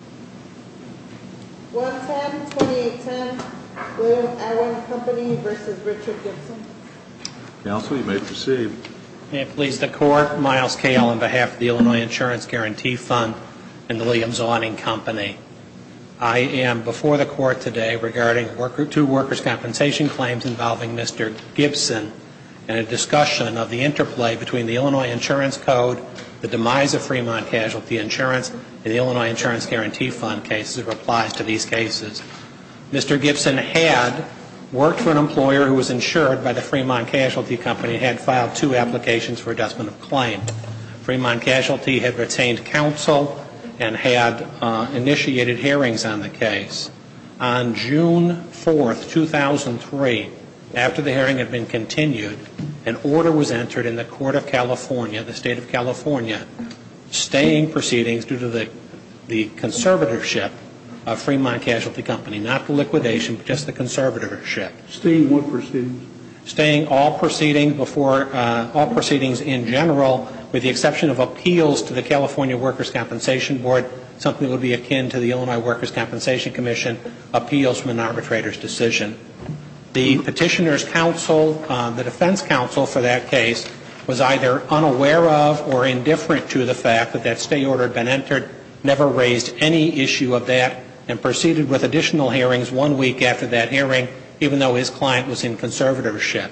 I am before the Court today regarding two workers' compensation claims involving Mr. Gibson and a discussion of the interplay between the Illinois Insurance Code, the demise of Fremont Casualty Insurance, and the Illinois Insurance Guarantee Act. Mr. Gibson had worked for an employer who was insured by the Fremont Casualty Company and had filed two applications for redressment of claim. Fremont Casualty had retained counsel and had initiated hearings on the case. On June 4, 2003, after the hearing had been continued, an order was entered in the Court of California, the State of California, staying proceedings due to the conservative of Fremont Casualty Company, not the liquidation, just the conservatorship. Staying what proceedings? Staying all proceedings in general with the exception of appeals to the California Workers' Compensation Board, something that would be akin to the Illinois Workers' Compensation Commission, appeals from an arbitrator's decision. The petitioner's counsel, the defense counsel for that case, was either unaware of or indifferent to the fact that that stay order had been entered, never raised any issue of that, and proceeded with additional hearings one week after that hearing, even though his client was in conservatorship.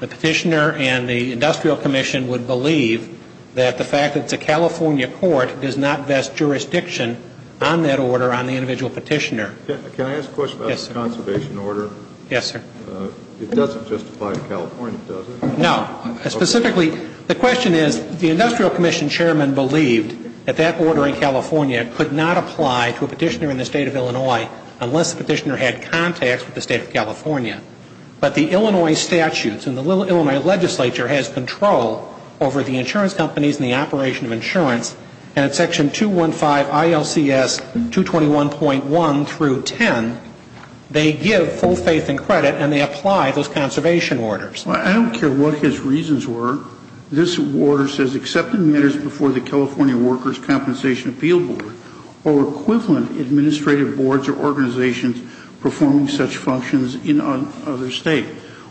The petitioner and the industrial commission would believe that the fact that it's a California court does not vest jurisdiction on that order on the individual petitioner. Can I ask a question about the conservation order? Yes, sir. It doesn't justify California, does it? No. Specifically, the question is the industrial commission chairman believed that that order in California could not apply to a petitioner in the State of Illinois unless the petitioner had contacts with the State of California. But the Illinois statutes and the Illinois legislature has control over the insurance companies and the operation of insurance. And at section 215 ILCS 221.1 through 10, they give full faith and credit and they apply those conservation orders. I don't care what his reasons were. This order says accepting matters before the California Workers' Compensation Appeal Board or equivalent administrative boards or organizations performing such functions in another State.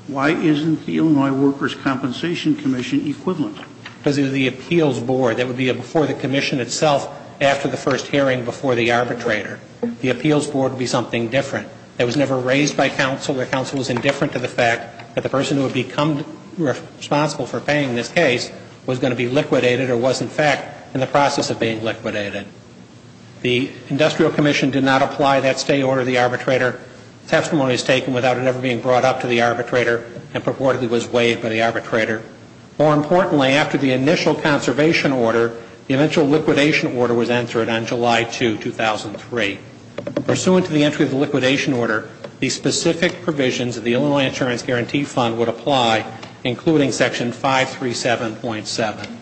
Why isn't the Illinois Workers' Compensation Commission equivalent? Because it was the appeals board that would be before the commission itself after the first hearing before the arbitrator. The appeals board would be something different. It was never raised by counsel. The counsel was indifferent to the fact that the person who would become responsible for paying this case was going to be liquidated or was in fact in the process of being liquidated. The industrial commission did not apply that state order to the arbitrator. Testimony was taken without it ever being brought up to the arbitrator and purportedly was waived by the arbitrator. More importantly, after the initial conservation order, the eventual liquidation order was entered on July 2, 2003. Pursuant to the entry of the liquidation order, the specific provisions of the Illinois Insurance Guarantee Fund would apply, including Section 537.7.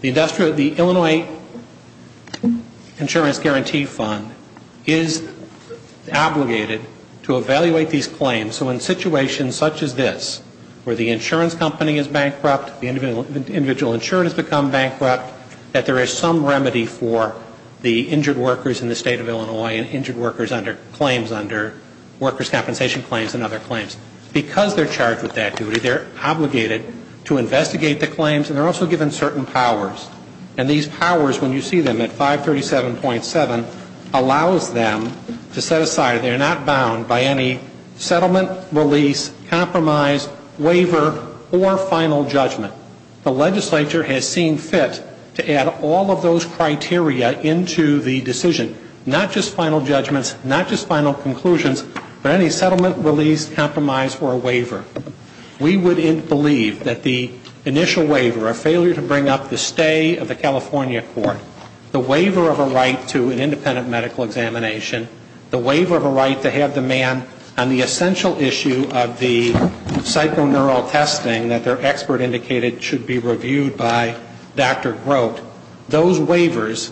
The Illinois Insurance Guarantee Fund is obligated to evaluate these claims. So in situations such as this, where the insurance company is bankrupt, the individual insurance has become bankrupt, that there is some remedy for the injured workers in the state of Illinois and injured workers under claims under workers' compensation claims and other claims. Because they're charged with that duty, they're obligated to investigate the claims, and they're also given certain powers. And these powers, when you see them at 537.7, allows them to set aside, they're not bound by any settlement, release, compromise, waiver, or final judgment. The legislature has seen fit to add all of those criteria into the decision, not just final judgments, not just final conclusions, but any settlement, release, compromise, or a waiver. We would believe that the initial waiver, a failure to bring up the stay of the California court, the waiver of a right to an independent medical examination, the waiver of a right to have the man on the essential issue of the psychoneural testing that their expert indicated should be reviewed by Dr. Grote, those waivers,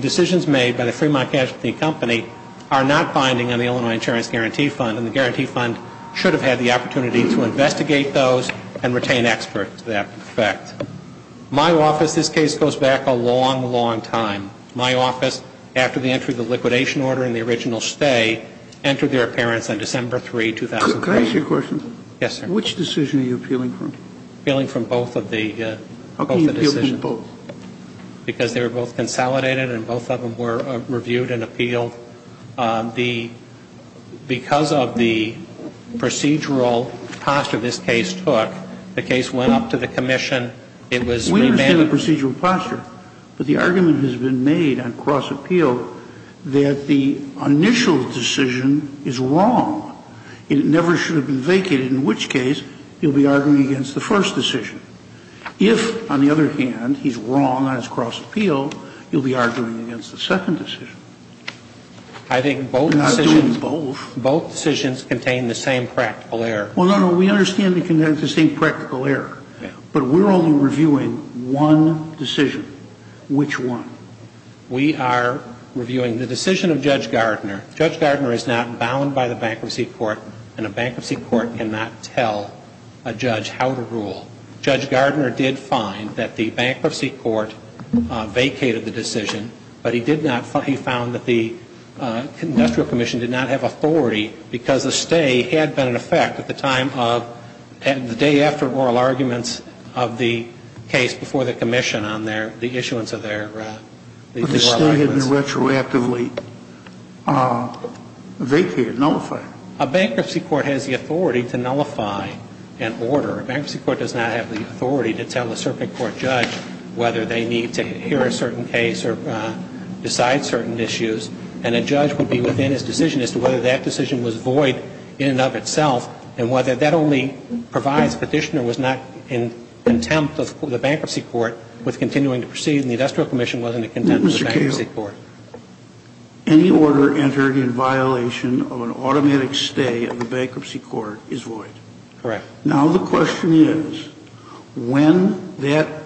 decisions made by the Fremont Casualty Company are not binding on the Illinois Insurance Guarantee Fund, and the Guarantee Fund should have had the opportunity to investigate those and retain experts to that effect. My office, this case goes back a long, long time. My office, after the entry of the liquidation order in the original stay, entered their appearance on December 3, 2003. Can I ask you a question? Yes, sir. Which decision are you appealing from? Appealing from both of the decisions. How can you appeal from both? Because they were both consolidated and both of them were reviewed and appealed. Because of the procedural posture this case took, the case went up to the commission. It was remanded. I understand the procedural posture, but the argument has been made on cross-appeal that the initial decision is wrong and it never should have been vacated, in which case you'll be arguing against the first decision. If, on the other hand, he's wrong on his cross-appeal, you'll be arguing against the second decision. I think both decisions. You're not doing both. Both decisions contain the same practical error. Well, no, no. We understand they contain the same practical error, but we're only reviewing one decision. Which one? We are reviewing the decision of Judge Gardner. Judge Gardner is not bound by the Bankruptcy Court, and a Bankruptcy Court cannot tell a judge how to rule. Judge Gardner did find that the Bankruptcy Court vacated the decision, but he did not vacate the decision. He found that the industrial commission did not have authority because the stay had been in effect at the time of the day after oral arguments of the case before the commission on the issuance of their oral arguments. But the stay had been retroactively vacated, nullified. A Bankruptcy Court has the authority to nullify an order. A Bankruptcy Court does not have the authority to tell a circuit court judge whether they need to hear a certain case or decide certain issues. And a judge would be within his decision as to whether that decision was void in and of itself, and whether that only provides Petitioner was not in contempt of the Bankruptcy Court with continuing to proceed, and the industrial commission wasn't in contempt of the Bankruptcy Court. Mr. Kagan, any order entered in violation of an automatic stay of the Bankruptcy Court is void. Correct. Now the question is, when that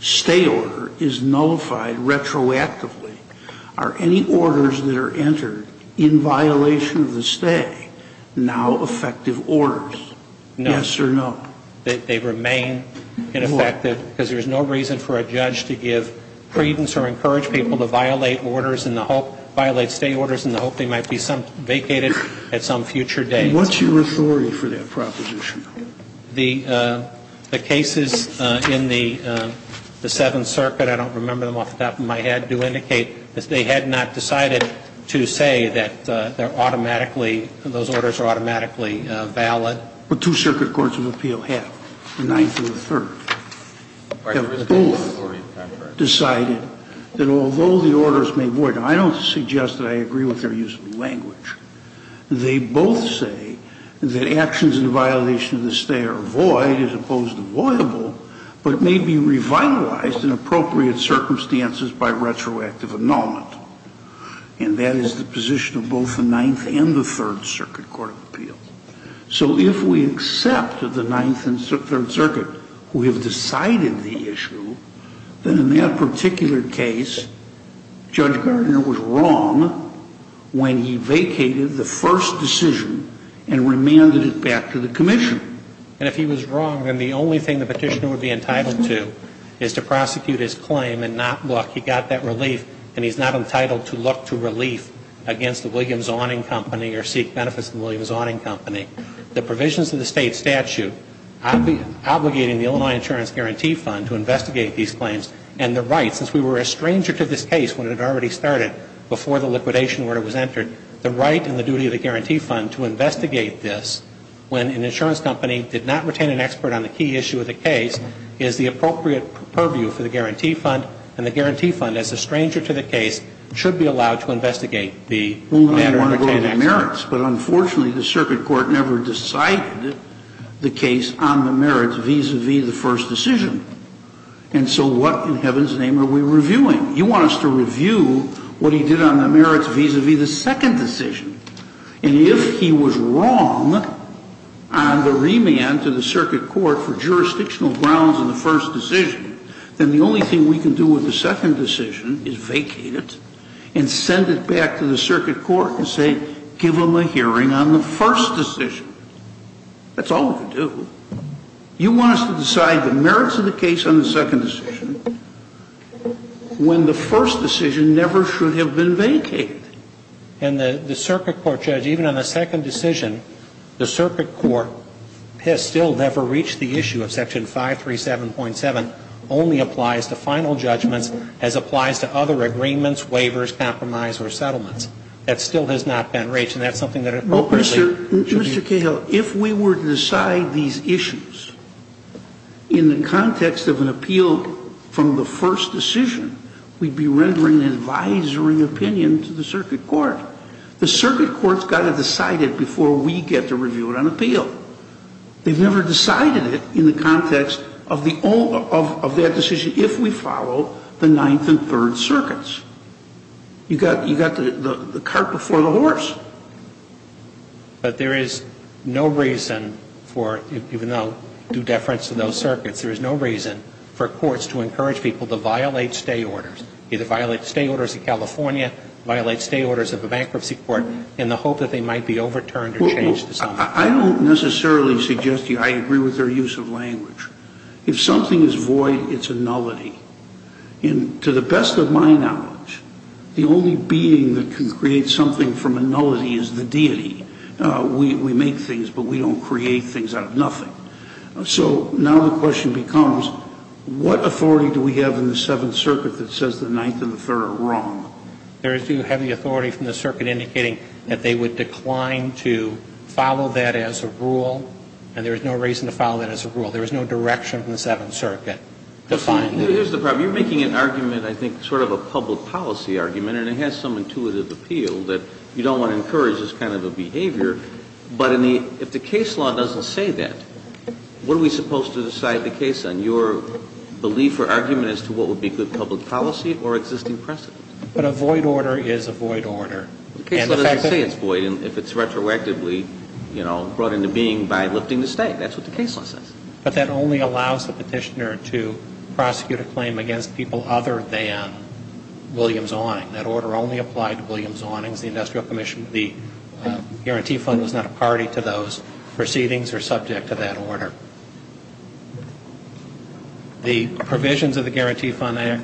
stay order is nullified retroactively, are any orders that are entered in violation of the stay now effective orders? Yes or no? No. They remain ineffective because there is no reason for a judge to give credence or encourage people to violate orders in the hope, violate stay orders in the hope they might be vacated at some future date. What's your authority for that proposition? The cases in the Seventh Circuit, I don't remember them off the top of my head, do indicate that they had not decided to say that they're automatically, those orders are automatically valid. But two circuit courts of appeal have, the Ninth and the Third. They both decided that although the orders may void them, I don't suggest that I agree with their use of language. They both say that actions in violation of the stay are void as opposed to voidable but may be revitalized in appropriate circumstances by retroactive annulment. And that is the position of both the Ninth and the Third Circuit Court of Appeal. So if we accept that the Ninth and Third Circuit who have decided the issue, then in that particular case, Judge Gardner was wrong when he vacated the first decision and remanded it back to the commission. And if he was wrong, then the only thing the petitioner would be entitled to is to prosecute his claim and not look. He got that relief and he's not entitled to look to relief against the Williams Awning Company or seek benefits from the Williams Awning Company. The provisions of the state statute obligating the Illinois Insurance Guarantee Fund to investigate these claims and the right, since we were a stranger to this case when it had already started before the liquidation order was entered, the right and the duty of the Guarantee Fund to investigate this when an insurance company did not retain an expert on the key issue of the case is the appropriate purview for the Guarantee Fund. And the Guarantee Fund, as a stranger to the case, should be allowed to investigate the matter and retain experts. And so what in heaven's name are we reviewing? You want us to review what he did on the merits vis-à-vis the second decision. And if he was wrong on the remand to the circuit court for jurisdictional grounds in the first decision, then the only thing we can do with the second decision is vacate it and send it back to the circuit court and say, give them a hearing on the first decision. That's all we can do. You want us to decide the merits of the case on the second decision when the first decision never should have been vacated. And the circuit court, Judge, even on the second decision, the circuit court has still never reached the issue of Section 537.7, only applies to final judgments as applies to other agreements, waivers, compromise, or settlements. That still has not been reached, and that's something that appropriately should be. Mr. Cahill, if we were to decide these issues in the context of an appeal from the first decision, we'd be rendering an advisory opinion to the circuit court. The circuit court's got to decide it before we get to review it on appeal. They've never decided it in the context of the own of that decision if we follow the Ninth and Third Circuits. You've got the cart before the horse. But there is no reason for, even though due deference to those circuits, there is no reason for courts to encourage people to violate stay orders, either violate stay orders in California, violate stay orders of a bankruptcy court in the hope that they might be overturned or changed to something else. I don't necessarily suggest you. I agree with their use of language. If something is void, it's a nullity. And to the best of my knowledge, the only being that can create something from a nullity is the deity. We make things, but we don't create things out of nothing. So now the question becomes, what authority do we have in the Seventh Circuit that says the Ninth and the Third are wrong? There is too heavy authority from the circuit indicating that they would decline to follow that as a rule, and there is no reason to follow that as a rule. There is no direction from the Seventh Circuit to find that. Here's the problem. You're making an argument, I think, sort of a public policy argument, and it has some intuitive appeal that you don't want to encourage this kind of a behavior. But if the case law doesn't say that, what are we supposed to decide the case on, your belief or argument as to what would be good public policy or existing precedent? But a void order is a void order. The case law doesn't say it's void if it's retroactively, you know, brought into being by lifting the stay. That's what the case law says. But that only allows the petitioner to prosecute a claim against people other than Williams-Owning. That order only applied to Williams-Ownings, the Industrial Commission. The Guarantee Fund was not a party to those proceedings or subject to that order. The provisions of the Guarantee Fund Act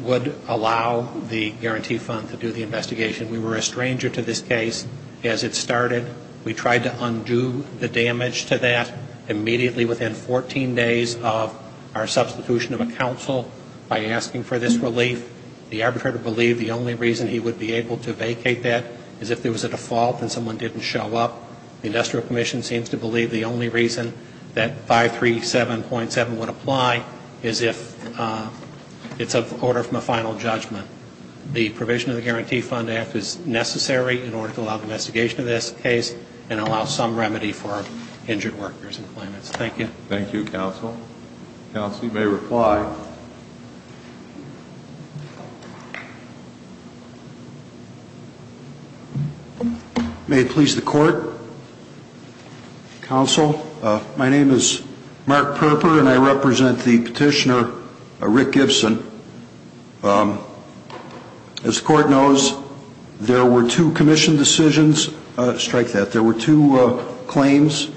would allow the Guarantee Fund to do the investigation. We were a stranger to this case as it started. We tried to undo the damage to that immediately within 14 days of our substitution of a counsel by asking for this relief. The arbitrator believed the only reason he would be able to vacate that is if there was a default and someone didn't show up. The Industrial Commission seems to believe the only reason that 537.7 would apply is if it's an order from a final judgment. The provision of the Guarantee Fund Act is necessary in order to allow investigation of this case and allow some remedy for injured workers and claimants. Thank you. Thank you, Counsel. Counsel, you may reply. May it please the Court? Counsel, my name is Mark Perper and I represent the petitioner, Rick Gibson. As the Court knows, there were two commission decisions. Strike that. There were two claims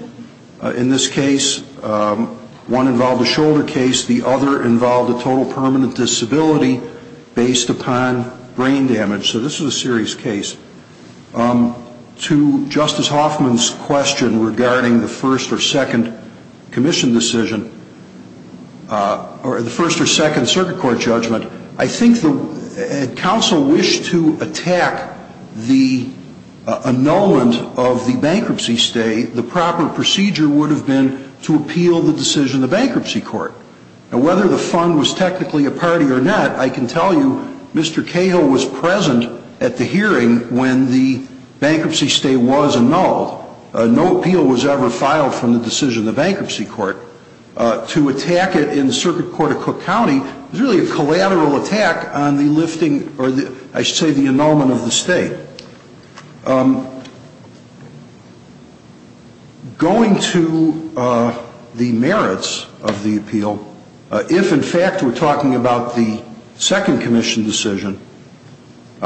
in this case. One involved a shoulder case. The other involved a total permanent disability based upon brain damage. So this is a serious case. To Justice Hoffman's question regarding the first or second commission decision or the first or second circuit court judgment, I think if Counsel wished to attack the annulment of the bankruptcy stay, the proper procedure would have been to appeal the decision of the bankruptcy court. Whether the fund was technically a party or not, I can tell you Mr. Cahill was present at the hearing when the bankruptcy stay was annulled. No appeal was ever filed from the decision of the bankruptcy court. To attack it in the circuit court of Cook County is really a collateral attack on the lifting or I should say the annulment of the stay. Going to the merits of the appeal, if in fact we're talking about the second commission decision,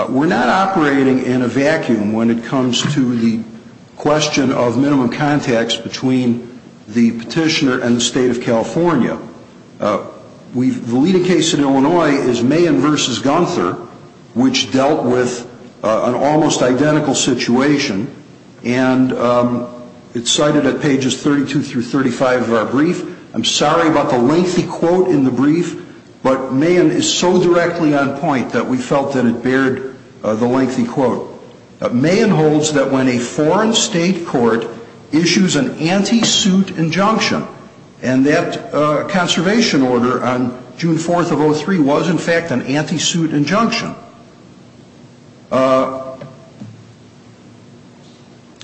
we're not operating in a vacuum when it comes to the question of minimum contacts between the petitioner and the state of California. The leading case in Illinois is Mahan v. Gunther, which dealt with an almost identical situation, and it's cited at pages 32 through 35 of our brief. I'm sorry about the lengthy quote in the brief, but Mahan is so directly on point that we felt that it bared the lengthy quote. Mahan holds that when a foreign state court issues an anti-suit injunction, and that conservation order on June 4th of 03 was in fact an anti-suit injunction.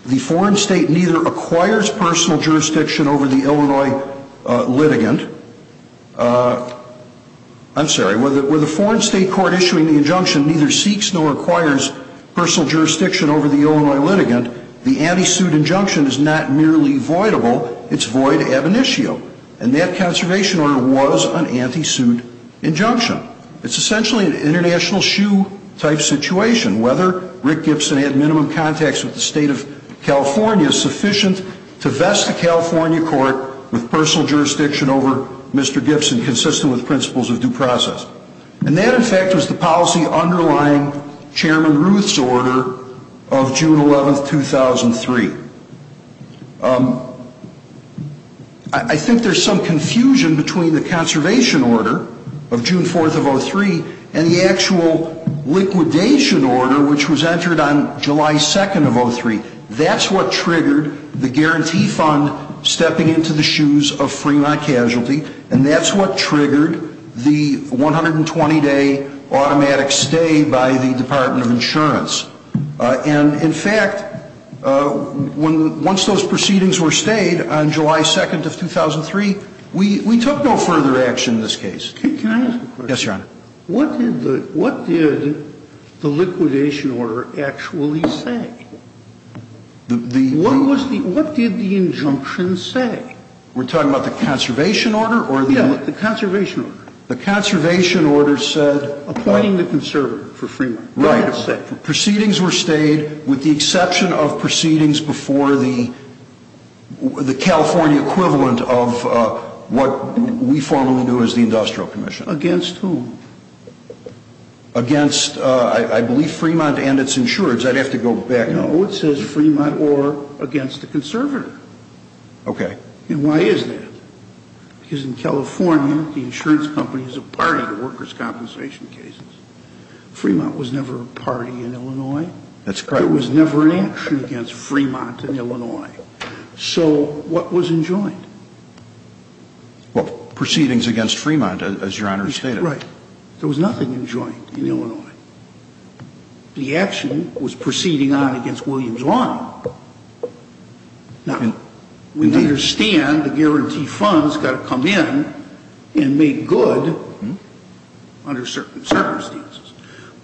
The foreign state neither acquires personal jurisdiction over the Illinois litigant. I'm sorry. Where the foreign state court issuing the injunction neither seeks nor acquires personal jurisdiction over the Illinois litigant, the anti-suit injunction is not merely voidable, it's void ab initio. And that conservation order was an anti-suit injunction. It's essentially an international shoe-type situation. Whether Rick Gibson had minimum contacts with the state of California is sufficient to vest a California court with personal jurisdiction over Mr. Gibson, consistent with principles of due process. And that, in fact, was the policy underlying Chairman Ruth's order of June 11th, 2003. I think there's some confusion between the conservation order of June 4th of 03 and the actual liquidation order which was entered on July 2nd of 03. That's what triggered the guarantee fund stepping into the shoes of Fremont Casualty, and that's what triggered the 120-day automatic stay by the Department of Insurance. And, in fact, once those proceedings were stayed on July 2nd of 2003, we took no further action in this case. Can I ask a question? Yes, Your Honor. What did the liquidation order actually say? What did the injunction say? We're talking about the conservation order or the? Yeah, the conservation order. The conservation order said? Appointing the conservator for Fremont. Right. That's it. Proceedings were stayed with the exception of proceedings before the California equivalent of what we formally knew as the Industrial Commission. Against whom? Against, I believe, Fremont and its insurers. I'd have to go back. No, it says Fremont or against the conservator. Okay. And why is that? Because in California, the insurance company is a party to workers' compensation cases. Fremont was never a party in Illinois. That's correct. There was never an action against Fremont in Illinois. So what was enjoined? Well, proceedings against Fremont, as Your Honor stated. Right. There was nothing enjoined in Illinois. The action was proceeding on against Williams Lawn. Now, we understand the guarantee fund has got to come in and make good under certain circumstances.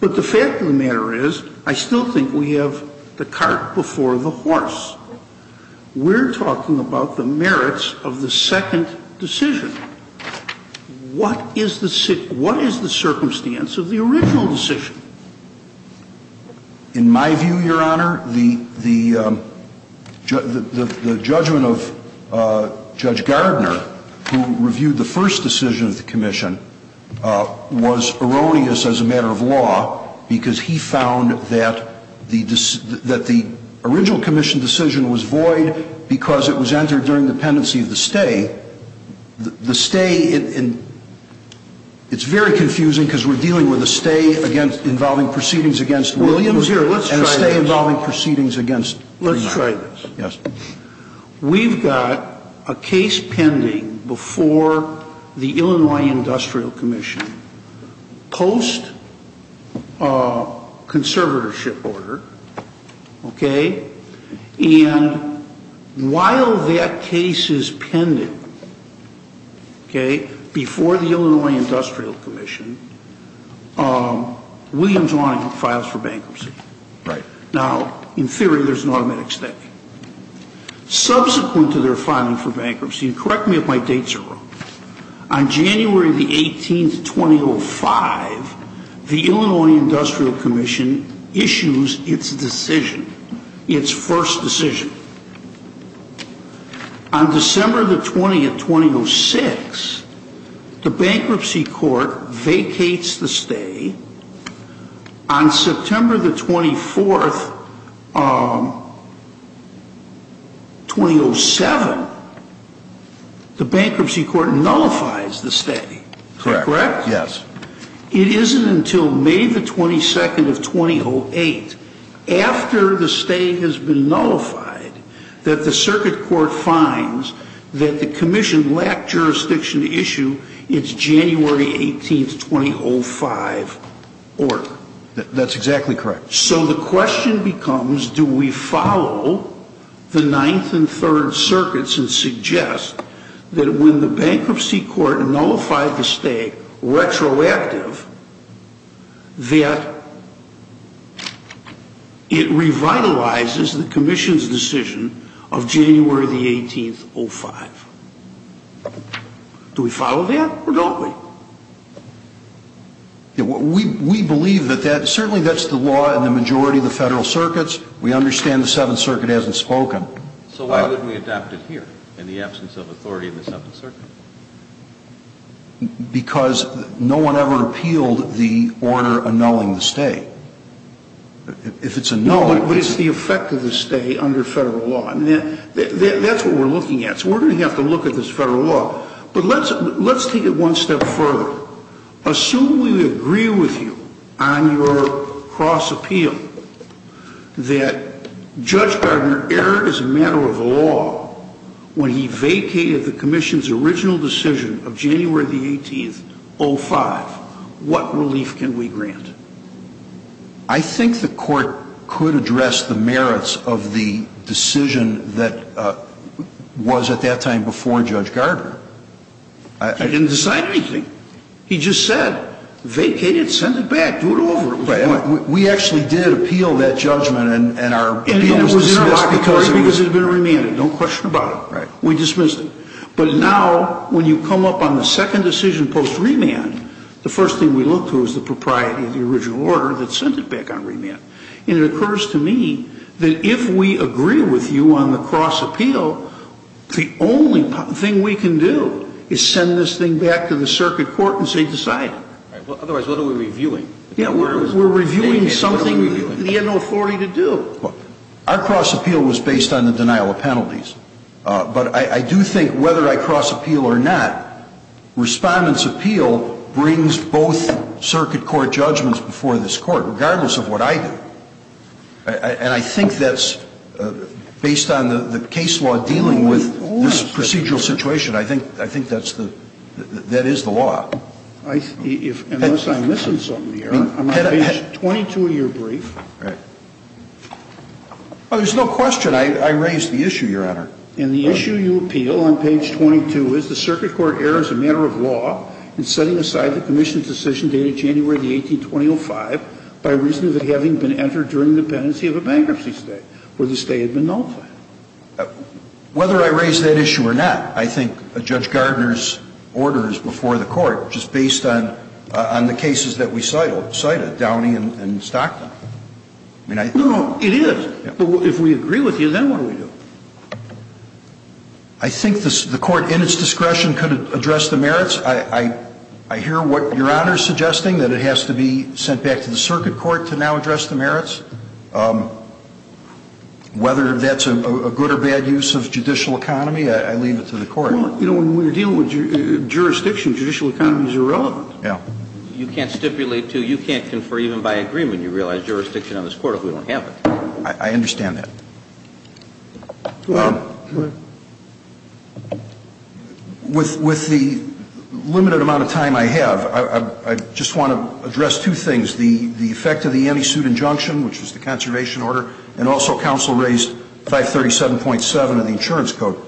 But the fact of the matter is, I still think we have the cart before the horse. We're talking about the merits of the second decision. What is the circumstance of the original decision? In my view, Your Honor, the judgment of Judge Gardner, who reviewed the first decision of the commission, was erroneous as a matter of law because he found that the original commission decision was void because it was entered during the pendency of the stay. The stay, it's very confusing because we're dealing with a stay against Williams and a stay involving proceedings against Fremont. Let's try this. Yes. We've got a case pending before the Illinois Industrial Commission post conservatorship order, okay? And while that case is pending, okay, before the Illinois Industrial Commission, Williams Lawn files for bankruptcy. Right. Now, in theory, there's an automatic stay. Subsequent to their filing for bankruptcy, and correct me if my dates are wrong, on January the 18th, 2005, the Illinois Industrial Commission issues its decision, its first decision. On December the 20th, 2006, the bankruptcy court vacates the stay. On September the 24th, 2007, the bankruptcy court nullifies the stay. Correct. Correct? Yes. It isn't until May the 22nd of 2008, after the stay has been nullified, that the circuit court finds that the commission lacked jurisdiction to issue its January 18th, 2005, order. That's exactly correct. So the question becomes, do we follow the Ninth and Third Circuits and that when the bankruptcy court nullified the stay retroactive, that it revitalizes the commission's decision of January the 18th, 2005? Do we follow that, or don't we? We believe that that, certainly that's the law in the majority of the federal circuits. We understand the Seventh Circuit hasn't spoken. So why wouldn't we adopt it here in the absence of authority in the Seventh Circuit? Because no one ever appealed the order annulling the stay. But it's the effect of the stay under federal law. That's what we're looking at. So we're going to have to look at this federal law. But let's take it one step further. Assume we agree with you on your cross appeal that Judge Gardner erred as a matter of law when he vacated the commission's original decision of January the 18th, 2005. What relief can we grant? I think the court could address the merits of the decision that was at that time before Judge Gardner. I didn't decide anything. He just said, vacate it, send it back, do it over. We actually did appeal that judgment, and our appeal was dismissed because it had been remanded. Don't question about it. We dismissed it. But now when you come up on the second decision post-remand, the first thing we look to is the propriety of the original order that sent it back on remand. And it occurs to me that if we agree with you on the cross appeal, the only thing we can do is send this thing back to the circuit court and say, decide it. Otherwise, what are we reviewing? We're reviewing something that he had no authority to do. Our cross appeal was based on the denial of penalties. But I do think whether I cross appeal or not, respondent's appeal brings both circuit court judgments before this court, regardless of what I do. And I think that's, based on the case law dealing with this procedural situation, I think that's the, that is the law. Unless I'm missing something here. I'm on page 22 of your brief. Oh, there's no question. I raised the issue, Your Honor. And the issue you appeal on page 22 is the circuit court errors a matter of law in setting aside the commission's decision dated January the 182005 by reason of it having been entered during dependency of a bankruptcy state where the state had been nullified. Whether I raise that issue or not, I think Judge Gardner's order is before the court, just based on the cases that we cited, Downey and Stockton. No, no, it is. If we agree with you, then what do we do? I think the court in its discretion could address the merits. I hear what Your Honor is suggesting, that it has to be sent back to the circuit court to now address the merits. Whether that's a good or bad use of judicial economy, I leave it to the court. Well, you know, when we're dealing with jurisdiction, judicial economy is irrelevant. Yeah. You can't stipulate to, you can't confer even by agreement, you realize, jurisdiction on this Court if we don't have it. I understand that. Go ahead. With the limited amount of time I have, I just want to address two things. The effect of the anti-suit injunction, which was the conservation order, and also counsel raised 537.7 of the insurance code.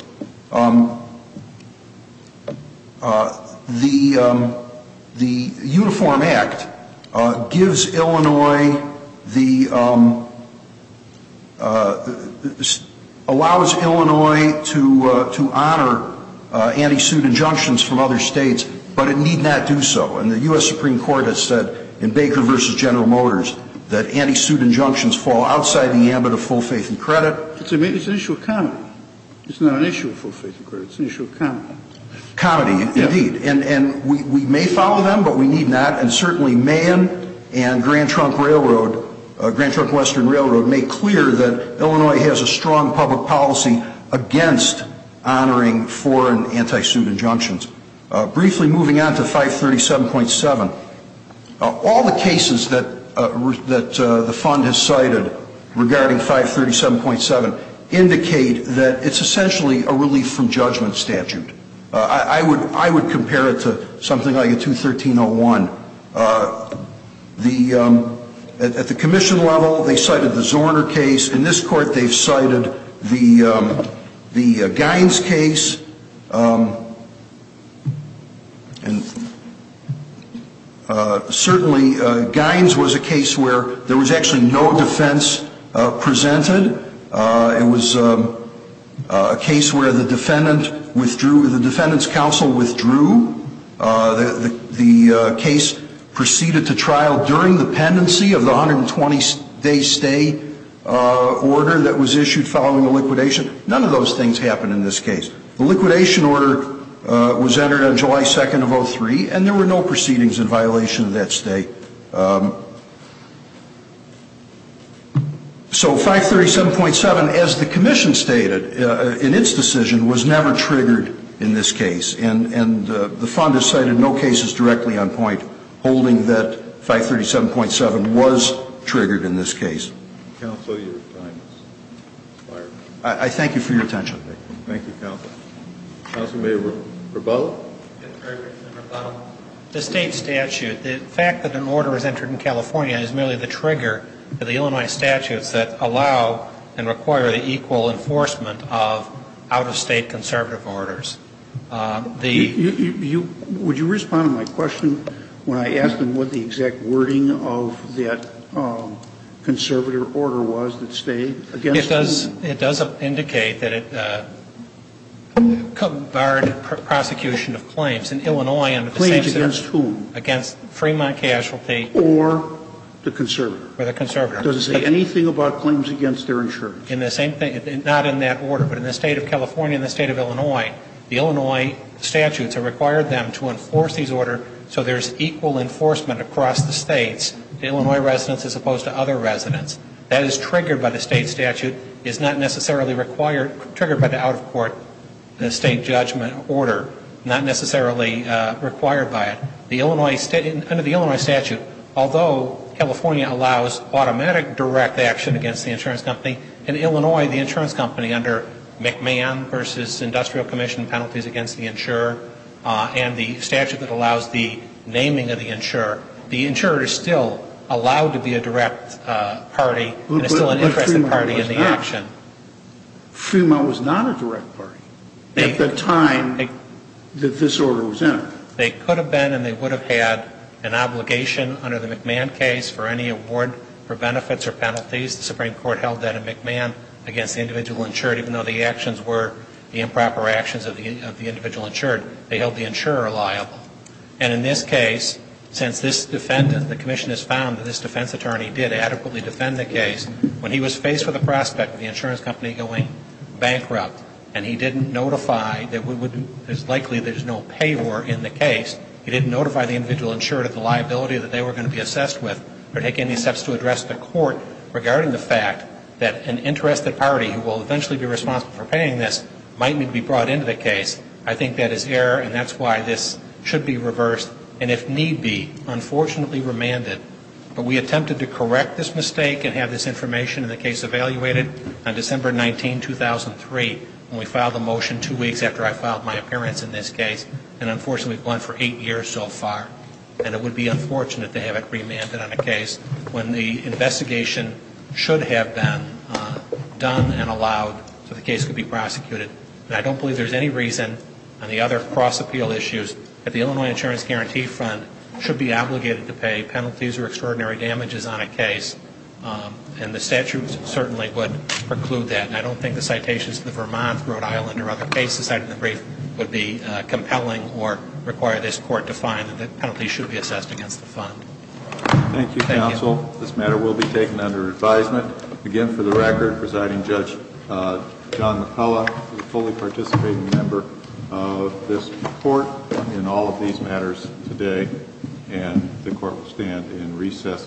The Uniform Act gives Illinois the, allows Illinois to honor anti-suit injunctions from other states, but it need not do so. And the U.S. Supreme Court has said in Baker v. General Motors that anti-suit injunctions fall outside the ambit of full faith and credit. It's an issue of comedy. It's not an issue of full faith and credit. It's an issue of comedy. Comedy, indeed. And we may follow them, but we need not. And certainly Mahan and Grand Trunk Railroad, Grand Trunk Western Railroad, make clear that Illinois has a strong public policy against honoring foreign anti-suit injunctions. Briefly moving on to 537.7, all the cases that the fund has cited regarding 537.7 indicate that it's essentially a relief from judgment statute. I would compare it to something like a 213.01. At the commission level, they cited the Zorner case. In this court, they've cited the Gines case. Certainly, Gines was a case where there was actually no defense presented. It was a case where the defendant withdrew, the defendant's counsel withdrew. The case proceeded to trial during the pendency of the 120-day stay order that was issued following the liquidation. None of those things happened in this case. The liquidation order was entered on July 2nd of 03, and there were no proceedings in violation of that stay. So 537.7, as the commission stated in its decision, was never triggered in this case. And the fund has cited no cases directly on point holding that 537.7 was triggered in this case. Counsel, your time has expired. I thank you for your attention. Thank you, counsel. Counsel may rebuttal. The state statute, the fact that an order is entered in California is merely the trigger for the Illinois statutes that allow and require the equal enforcement of out-of-state conservative orders. Would you respond to my question when I asked them what the exact wording of that conservative order was that stayed against whom? It does indicate that it barred prosecution of claims in Illinois under the same statute. Claims against whom? Against Fremont Casualty. Or the conservative? Or the conservative. Does it say anything about claims against their insurance? In the same thing. Not in that order. But in the State of California and the State of Illinois, the Illinois statutes have required them to enforce these orders so there's equal enforcement across the States to Illinois residents as opposed to other residents. That is triggered by the state statute. It's not necessarily triggered by the out-of-court state judgment order. Not necessarily required by it. Under the Illinois statute, although California allows automatic direct action against the insurance company, in Illinois the insurance company under McMahon v. Industrial Commission penalties against the insurer and the statute that allows the naming of the insurer, the insurer is still allowed to be a direct party and is still an interested party in the action. But Fremont was not. Fremont was not a direct party at the time that this order was entered. They could have been and they would have had an obligation under the McMahon case for any award for benefits or penalties. The Supreme Court held that in McMahon against the individual insured, even though the actions were the improper actions of the individual insured. They held the insurer liable. And in this case, since this defendant, the commission has found that this defense attorney did adequately defend the case, when he was faced with a prospect of the insurance company going bankrupt and he didn't notify that it's likely there's no payor in the case. He didn't notify the individual insured of the liability that they were going to be assessed with or take any steps to address the court regarding the fact that an interested party who will eventually be responsible for paying this might need to be brought into the case. I think that is error and that's why this should be reversed and, if need be, unfortunately remanded. But we attempted to correct this mistake and have this information in the case evaluated on December 19, 2003. We filed a motion two weeks after I filed my appearance in this case and, unfortunately, we've gone for eight years so far. And it would be unfortunate to have it remanded on a case when the investigation should have been done and allowed so the case could be prosecuted. And I don't believe there's any reason on the other cross-appeal issues that the Illinois Insurance Guarantee Fund should be obligated to pay penalties or extraordinary damages on a case. And the statute certainly would preclude that. I don't think the citations in the Vermont, Rhode Island, or other cases cited in the brief would be compelling or require this court to find that penalties should be assessed against the fund. Thank you, counsel. This matter will be taken under advisement. Again, for the record, Presiding Judge John McCullough is a fully participating member of this court in all of these matters today. And the court will stand in recess until 11 a.m.